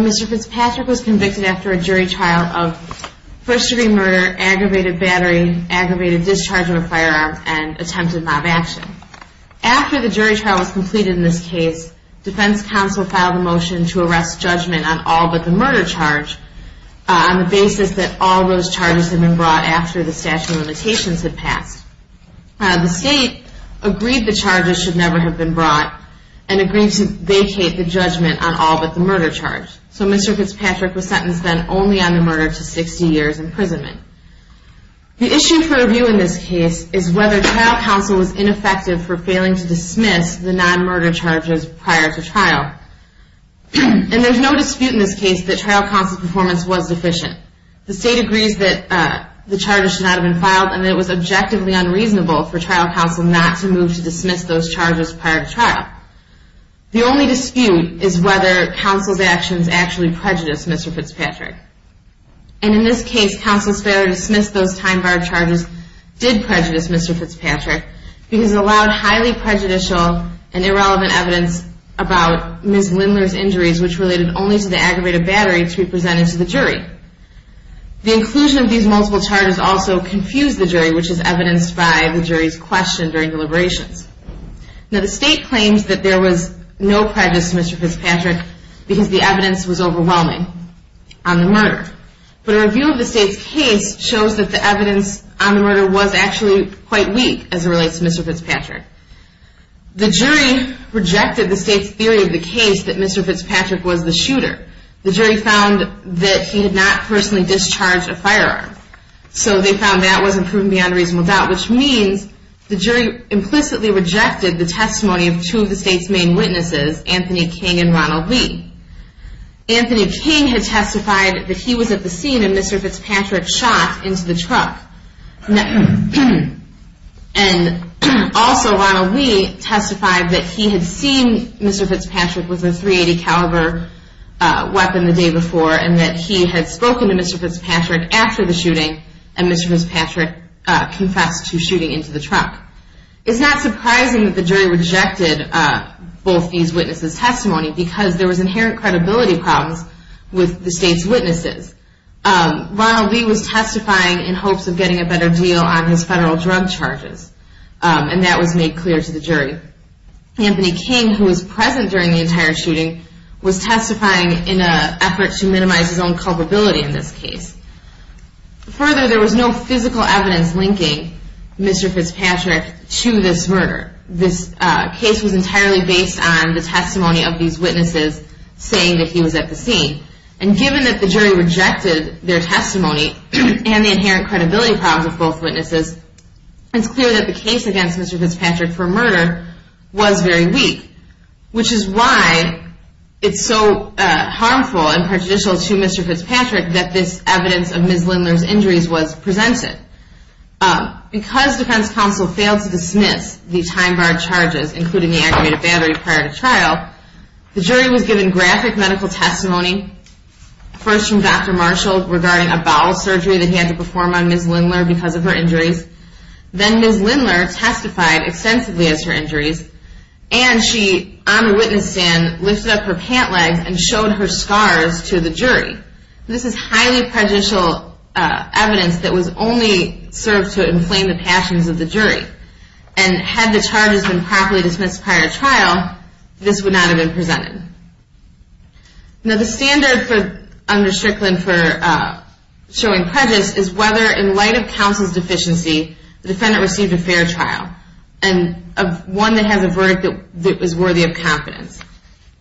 Mr. Fitzpatrick was convicted after a jury trial of first-degree murder, aggravated assault, and assault with a firearm. After the jury trial was completed in this case, defense counsel filed a motion to arrest judgment on all but the murder charge on the basis that all those charges had been brought after the statute of limitations had passed. The state agreed the charges should never have been brought and agreed to vacate the judgment on all but the murder charge. So Mr. Fitzpatrick was sentenced then only on the murder to 60 years imprisonment. The issue for review in this case is whether trial counsel was ineffective for failing to dismiss the non-murder charges prior to trial. And there's no dispute in this case that trial counsel's performance was deficient. The state agrees that the charges should not have been filed and that it was objectively unreasonable for trial counsel not to move to dismiss those charges prior to trial. The only dispute is whether counsel's actions actually prejudiced Mr. Fitzpatrick. And in this case, counsel's failure to dismiss those time-barred charges did prejudice Mr. Fitzpatrick because it allowed highly prejudicial and irrelevant evidence about Ms. Lindler's injuries, which related only to the aggravated battery, to be presented to the jury. The inclusion of these multiple charges also confused the jury, which is evidenced by the jury's question during deliberations. Now the state claims that there was no prejudice to Mr. Fitzpatrick because the evidence was overwhelming on the murder. But a review of the state's case shows that the evidence on the murder was actually quite weak as it relates to Mr. Fitzpatrick. The jury rejected the state's theory of the case that Mr. Fitzpatrick was the shooter. The jury found that he had not personally discharged a firearm. So they found that wasn't proven beyond reasonable doubt, which means the jury implicitly rejected the testimony of two of the state's main witnesses, Anthony King and Ronald Lee. Anthony King had testified that he was at the scene when Mr. Fitzpatrick shot into the truck. And also Ronald Lee testified that he had seen Mr. Fitzpatrick with a .380 caliber weapon the day before and that he had spoken to Mr. Fitzpatrick after the shooting and Mr. Fitzpatrick confessed to shooting into the truck. It's not surprising that the jury rejected both these witnesses' testimony because there was inherent credibility problems with the state's witnesses. Ronald Lee was testifying in hopes of getting a better deal on his federal drug charges and that was made clear to the jury. Anthony King, who was present during the entire shooting, was testifying in an effort to minimize his own culpability in this case. Further, there was no physical evidence linking Mr. Fitzpatrick to this murder. This case was entirely based on the testimony of these witnesses saying that he was at the scene. And given that the jury rejected their testimony and the inherent credibility problems of both witnesses, it's clear that the case against Mr. Fitzpatrick for murder was very weak. Which is why it's so harmful and prejudicial to Mr. Fitzpatrick that this evidence of Ms. Lindler's injuries was presented. Because defense counsel failed to dismiss the time-barred charges, including the aggravated battery prior to trial, the jury was given graphic medical testimony. First from Dr. Marshall regarding a bowel surgery that he had to perform on Ms. Lindler because of her injuries. Then Ms. Lindler testified extensively as her injuries and she, on the witness stand, lifted up her pant legs and showed her scars to the jury. This is highly prejudicial evidence that was only served to inflame the passions of the jury. And had the charges been properly dismissed prior to trial, this would not have been presented. Now the standard under Strickland for showing prejudice is whether, in light of counsel's deficiency, the defendant received a fair trial. And one that has a verdict that was worthy of confidence.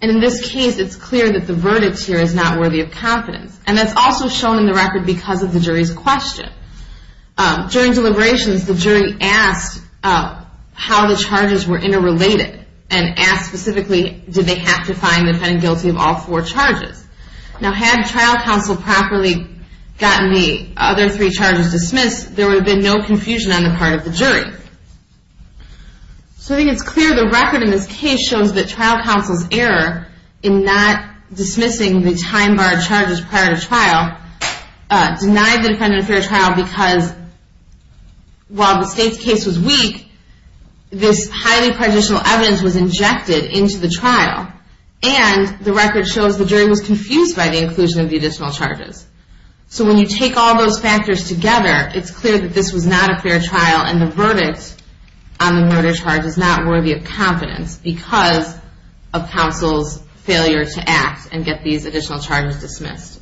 And in this case, it's clear that the verdict here is not worthy of confidence. And that's also shown in the record because of the jury's question. During deliberations, the jury asked how the charges were interrelated. And asked specifically, did they have to find the defendant guilty of all four charges? Now had trial counsel properly gotten the other three charges dismissed, there would have been no confusion on the part of the jury. So I think it's clear the record in this case shows that trial counsel's error in not dismissing the time-barred charges prior to trial denied the defendant a fair trial because while the state's case was weak, this highly prejudicial evidence was injected into the trial. And the record shows the jury was confused by the inclusion of the additional charges. So when you take all those factors together, it's clear that this was not a fair trial. And the verdict on the murder charge is not worthy of confidence because of counsel's failure to act and get these additional charges dismissed.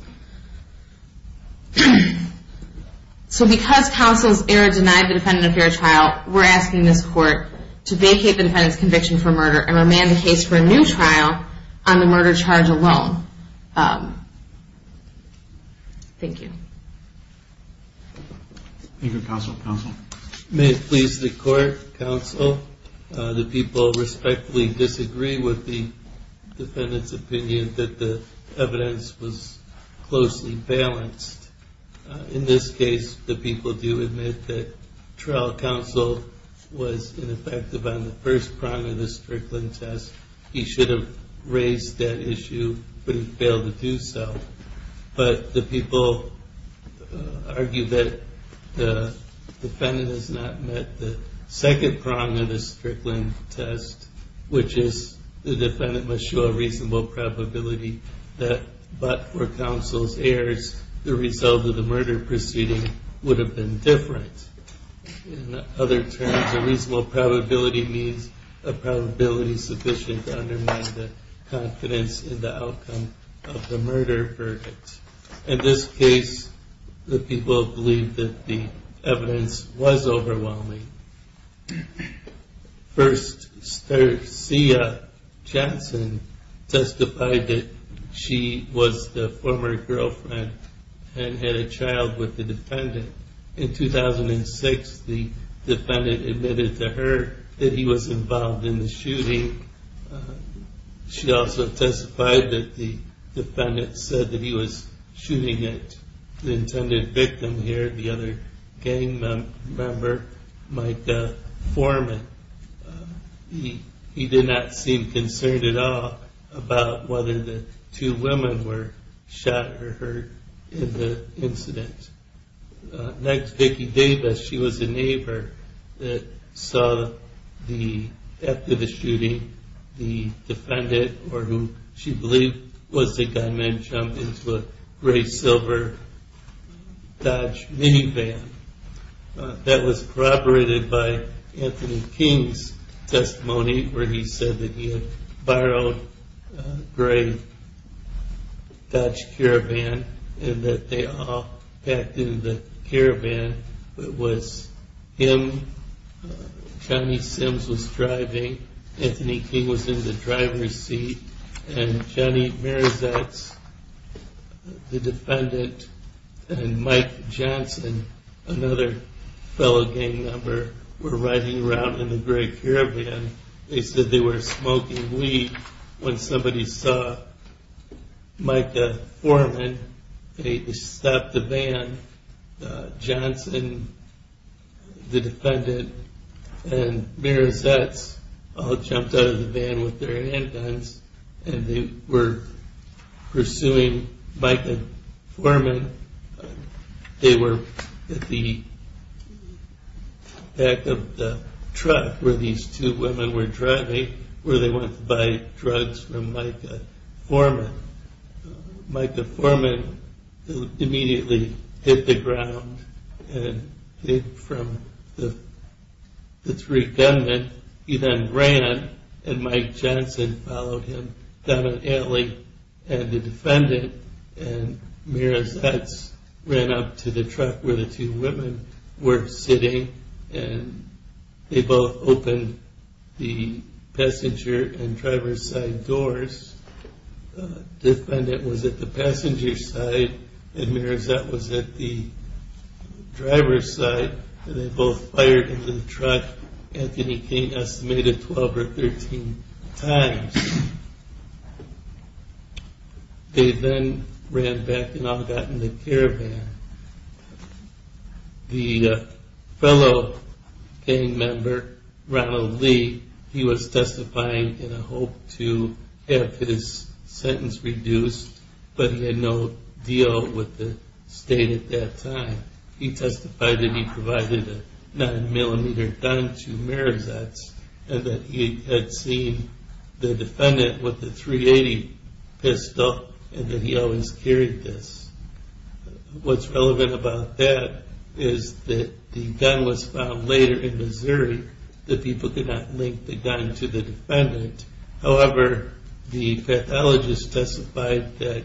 So because counsel's error denied the defendant a fair trial, we're asking this court to vacate the defendant's conviction for murder and remand the case for a new trial on the murder charge alone. Thank you. Thank you, counsel. May it please the court, counsel, the people respectfully disagree with the defendant's opinion that the evidence was closely balanced. In this case, the people do admit that trial counsel was ineffective on the first prong of the Strickland test. He should have raised that issue, but he failed to do so. But the people argue that the defendant has not met the second prong of the Strickland test, which is the defendant must show a reasonable probability that, but for counsel's errors, the result of the murder proceeding would have been different. In other terms, a reasonable probability means a probability sufficient to undermine the confidence in the outcome of the murder verdict. In this case, the people believe that the evidence was overwhelming. First, Stacia Johnson testified that she was the former girlfriend and had a child with the defendant. In 2006, the defendant admitted to her that he was involved in the shooting. She also testified that the defendant said that he was shooting at the intended victim here, the other gang member. He did not seem concerned at all about whether the two women were shot or hurt in the incident. Next, Vicki Davis, she was a neighbor that saw the act of the shooting. The defendant, or who she believed was the gunman, jumped into a gray silver Dodge minivan. That was corroborated by Anthony King's testimony where he said that he had borrowed a gray Dodge caravan and that they all packed into the caravan. It was him, Johnny Sims was driving, Anthony King was in the driver's seat, and Johnny Mirazetz, the defendant, and Mike Johnson, another fellow gang member, were riding around in the gray caravan. They said they were smoking weed when somebody saw Micah Foreman. They stopped the van. Johnson, the defendant, and Mirazetz all jumped out of the van with their handguns and they were pursuing Micah Foreman. They were at the back of the truck where these two women were driving where they went to buy drugs from Micah Foreman. Micah Foreman immediately hit the ground and hid from the three gunmen. He then ran and Mike Johnson followed him down an alley and the defendant and Mirazetz ran up to the truck where the two women were sitting. They both opened the passenger and driver's side doors. The defendant was at the passenger side and Mirazetz was at the driver's side. They both fired into the truck. Anthony King estimated 12 or 13 times. They then ran back and all got in the caravan. The fellow gang member, Ronald Lee, he was testifying in a hope to have his sentence reduced, but he had no deal with the state at that time. He testified that he provided a 9mm gun to Mirazetz and that he had seen the defendant with the .380 pistol and that he always carried this. What's relevant about that is that the gun was found later in Missouri. The people could not link the gun to the defendant. However, the pathologist testified that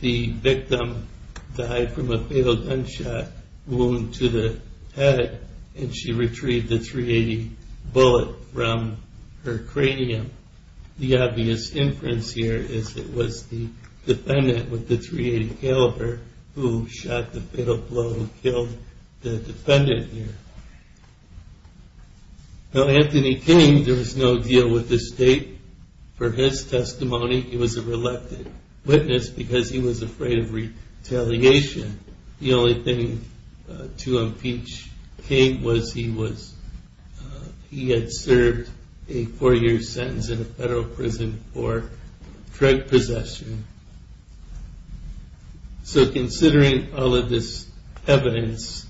the victim died from a fatal gunshot wound to the head and she retrieved the .380 bullet from her cranium. The obvious inference here is that it was the defendant with the .380 caliber who shot the fatal blow and killed the defendant here. Anthony King, there was no deal with the state for his testimony. He was a reluctant witness because he was afraid of retaliation. The only thing to impeach King was he had served a four year sentence in a federal prison for drug possession. So considering all of this evidence,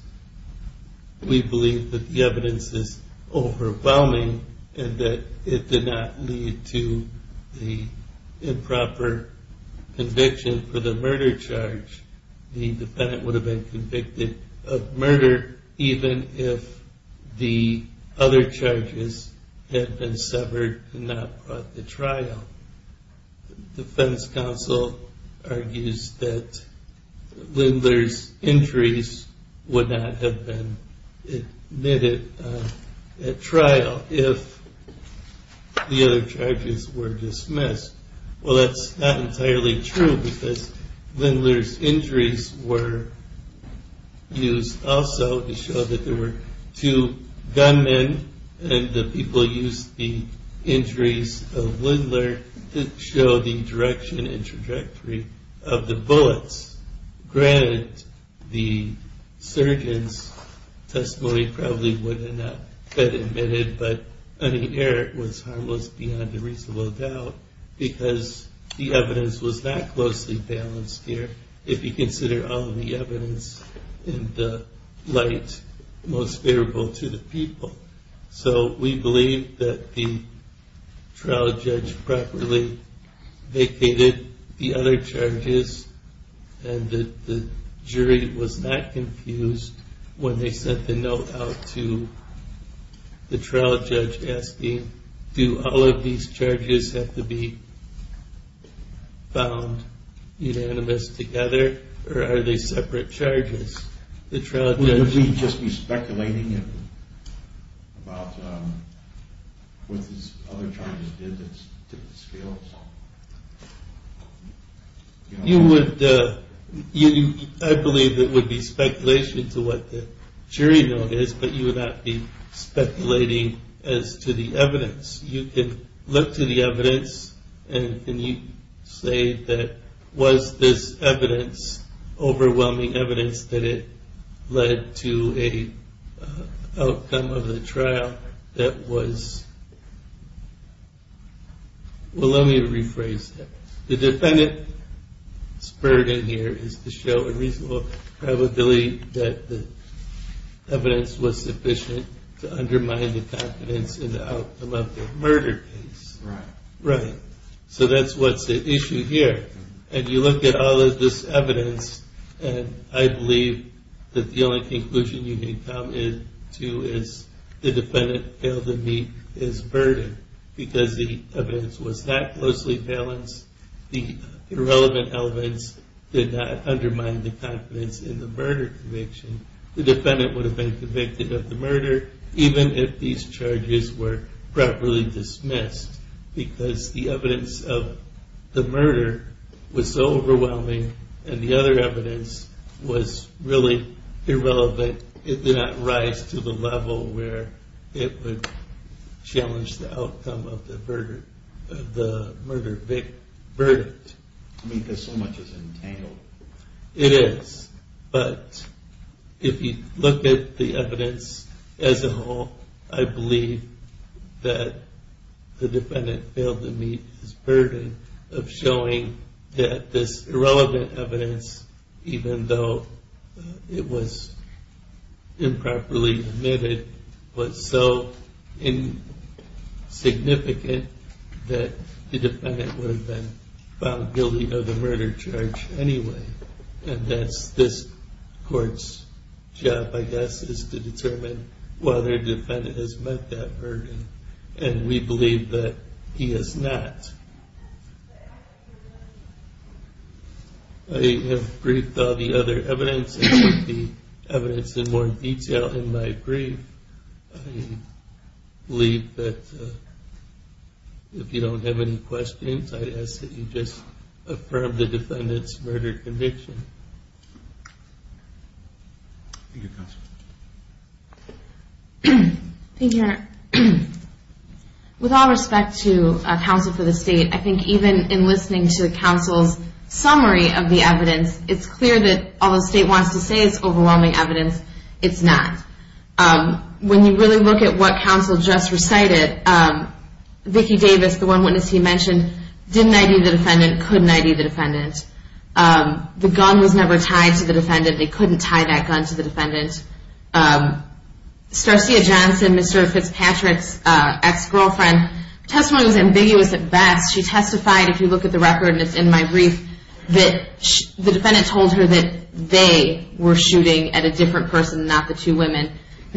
we believe that the evidence is overwhelming and that it did not lead to the improper conviction for the murder charge. The defendant would have been convicted of murder even if the other charges had been severed and not brought to trial. The defense counsel argues that Lindler's injuries would not have been admitted at trial if the other charges were dismissed. Well that's not entirely true because Lindler's injuries were used also to show that there were two gunmen and the people used the injuries of Lindler to show the direction and trajectory of the bullets. Granted, the surgeon's testimony probably would have not been admitted but any error was harmless beyond a reasonable doubt because the evidence was not closely balanced here. If you consider all of the evidence in the light most favorable to the people. So we believe that the trial judge properly vacated the other charges and that the jury was not confused when they sent the note out to the trial judge asking do all of these charges have to be found unanimous together or are they separate charges? Would we just be speculating about what these other charges did that didn't scale? I believe it would be speculation to what the jury noticed but you would not be speculating as to the evidence. You can look to the evidence and you can say was this overwhelming evidence that it led to an outcome of the trial that was, well let me rephrase that. The defendant's burden here is to show a reasonable probability that the evidence was sufficient to undermine the confidence in the outcome of the murder case. So that's what's at issue here and you look at all of this evidence and I believe that the only conclusion you can come to is the defendant failed to meet his burden because the evidence was not closely balanced. The irrelevant elements did not undermine the confidence in the murder conviction. The defendant would have been convicted of the murder even if these charges were properly dismissed because the evidence of the murder was so overwhelming and the other evidence was really irrelevant. It did not rise to the level where it would challenge the outcome of the murder verdict. I mean because so much is entangled. It is but if you look at the evidence as a whole I believe that the defendant failed to meet his burden of showing that this irrelevant evidence even though it was improperly admitted was so insignificant that the defendant would have been found guilty of the murder charge anyway. And that's this court's job I guess is to determine whether the defendant has met that burden and we believe that he has not. I have briefed all the other evidence. It would be evidence in more detail in my brief. I believe that if you don't have any questions I'd ask that you just affirm the defendant's murder conviction. Thank you counsel. Thank you your honor. With all respect to counsel for the state I think even in listening to counsel's summary of the evidence it's clear that although the state wants to say it's overwhelming evidence it's not. When you really look at what counsel just recited, Vicki Davis, the one witness he mentioned, didn't ID the defendant, couldn't ID the defendant. The gun was never tied to the defendant. They couldn't tie that gun to the defendant. Starcia Johnson, Mr. Fitzpatrick's ex-girlfriend, testimony was ambiguous at best. She testified, if you look at the record and it's in my brief, that the defendant told her that they were shooting at a different person, not the two women.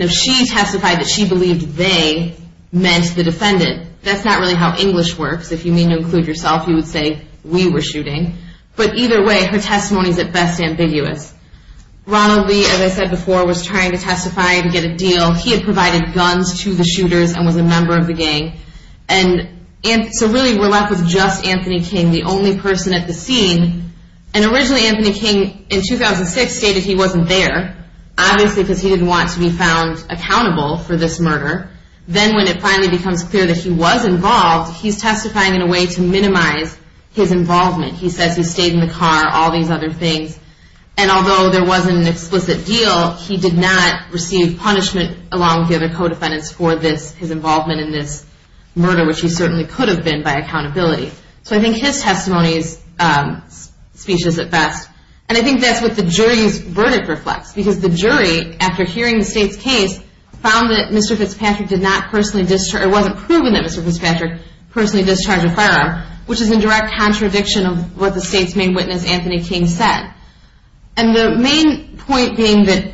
She testified that she believed they meant the defendant. That's not really how English works. If you mean to include yourself you would say we were shooting. But either way her testimony is at best ambiguous. Ronald Lee, as I said before, was trying to testify to get a deal. He had provided guns to the shooters and was a member of the gang. So really we're left with just Anthony King, the only person at the scene. And originally Anthony King in 2006 stated he wasn't there. Obviously because he didn't want to be found accountable for this murder. Then when it finally becomes clear that he was involved, he's testifying in a way to minimize his involvement. He says he stayed in the car, all these other things. And although there wasn't an explicit deal, he did not receive punishment along with the other co-defendants for his involvement in this murder, which he certainly could have been by accountability. So I think his testimony's speech is at best. And I think that's what the jury's verdict reflects. Because the jury, after hearing the state's case, found that Mr. Fitzpatrick did not personally discharge, it wasn't proven that Mr. Fitzpatrick personally discharged a firearm, which is in direct contradiction of what the state's main witness Anthony King said. And the main point being that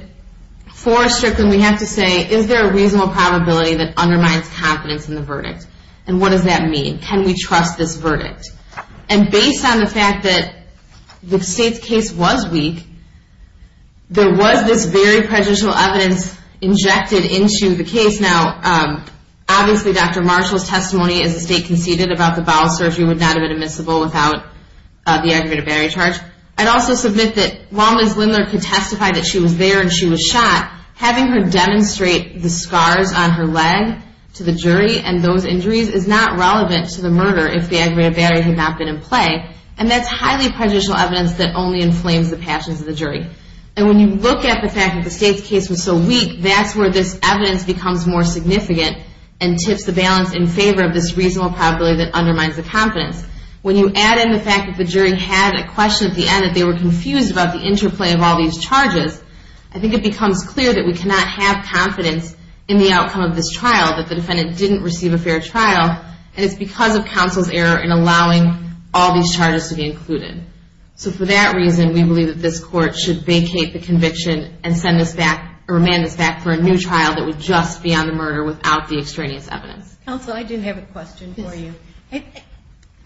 for Strickland we have to say, is there a reasonable probability that undermines confidence in the verdict? Can we trust this verdict? And based on the fact that the state's case was weak, there was this very prejudicial evidence injected into the case. Now, obviously Dr. Marshall's testimony as the state conceded about the bowel surgery would not have been admissible without the aggravated battery charge. I'd also submit that while Ms. Lindler could testify that she was there and she was shot, having her demonstrate the scars on her leg to the jury and those injuries is not relevant to the murder if the aggravated battery had not been in play. And that's highly prejudicial evidence that only inflames the passions of the jury. And when you look at the fact that the state's case was so weak, that's where this evidence becomes more significant and tips the balance in favor of this reasonable probability that undermines the confidence. When you add in the fact that the jury had a question at the end, that they were confused about the interplay of all these charges, I think it becomes clear that we cannot have confidence in the outcome of this trial, that the defendant didn't receive a fair trial, and it's because of counsel's error in allowing all these charges to be included. So for that reason, we believe that this court should vacate the conviction and send us back or remand us back for a new trial that would just be on the murder without the extraneous evidence. Counsel, I do have a question for you.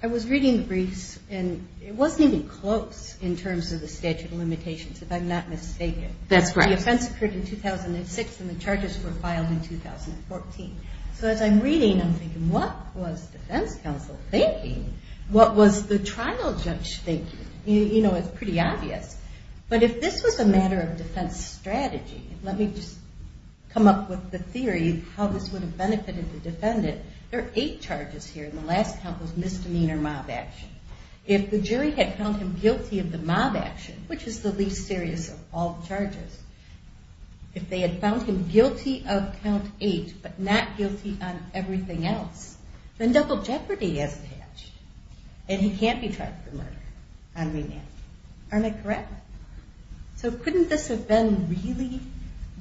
I was reading the briefs and it wasn't even close in terms of the statute of limitations, if I'm not mistaken. That's correct. The offense occurred in 2006 and the charges were filed in 2014. So as I'm reading, I'm thinking, what was defense counsel thinking? What was the trial judge thinking? You know, it's pretty obvious. But if this was a matter of defense strategy, let me just come up with the theory of how this would have benefited the defendant. There are eight charges here and the last count was misdemeanor mob action. If the jury had found him guilty of the mob action, which is the least serious of all the charges, if they had found him guilty of count eight but not guilty on everything else, then double jeopardy as a catch and he can't be tried for murder on remand. Aren't I correct? So couldn't this have been really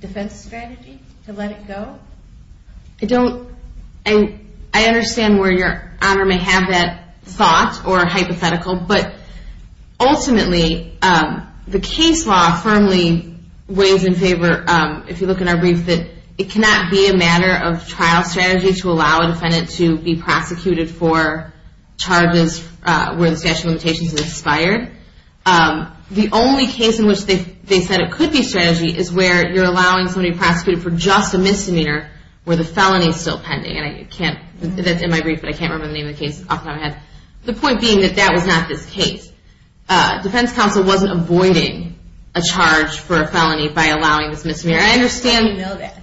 defense strategy to let it go? I don't. I understand where Your Honor may have that thought or hypothetical, but ultimately the case law firmly weighs in favor, if you look in our brief, that it cannot be a matter of trial strategy to allow a defendant to be prosecuted for charges where the statute of limitations is expired. The only case in which they said it could be strategy is where you're allowing somebody to be prosecuted for just a misdemeanor where the felony is still pending. That's in my brief, but I can't remember the name of the case off the top of my head. The point being that that was not this case. Defense counsel wasn't avoiding a charge for a felony by allowing this misdemeanor. I understand that.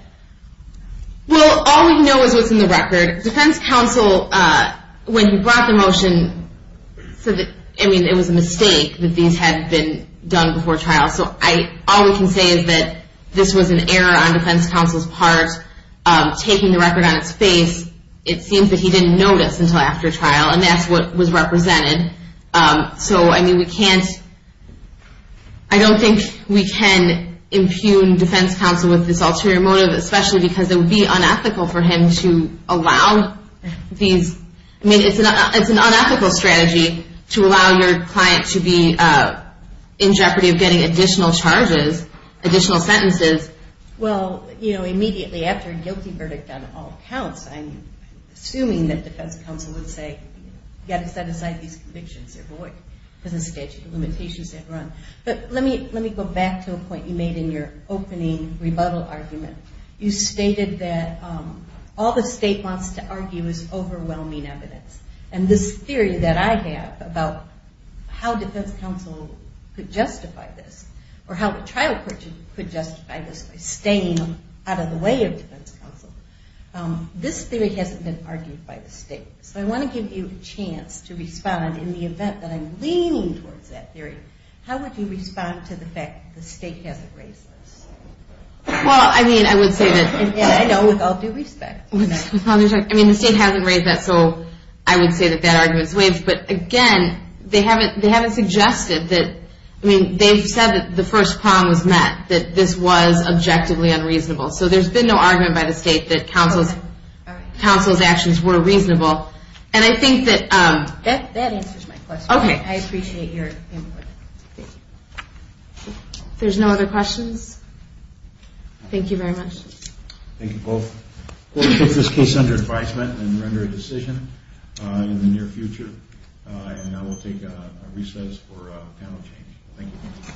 Well, all we know is what's in the record. Defense counsel, when he brought the motion, it was a mistake that these had been done before trial. So all we can say is that this was an error on defense counsel's part, taking the record on its face. It seems that he didn't notice until after trial, and that's what was represented. So, I mean, I don't think we can impugn defense counsel with this ulterior motive, especially because it would be unethical for him to allow these. I mean, it's an unethical strategy to allow your client to be in jeopardy of getting additional charges, additional sentences. Well, you know, immediately after a guilty verdict on all counts, I'm assuming that defense counsel would say, you've got to set aside these convictions. They're void. There's a statute of limitations they've run. But let me go back to a point you made in your opening rebuttal argument. You stated that all the state wants to argue is overwhelming evidence, and this theory that I have about how defense counsel could justify this or how a trial court could justify this by staying out of the way of defense counsel, this theory hasn't been argued by the state. So I want to give you a chance to respond in the event that I'm leaning towards that theory. How would you respond to the fact that the state hasn't raised this? Well, I mean, I would say that the state hasn't raised that, so I would say that that argument is waived. But, again, they haven't suggested that. I mean, they've said that the first prong was met, that this was objectively unreasonable. So there's been no argument by the state that counsel's actions were reasonable. And I think that... That answers my question. Okay. I appreciate your input. If there's no other questions, thank you very much. Thank you both. We'll put this case under advisement and render a decision in the near future. And now we'll take a recess for panel change. Thank you.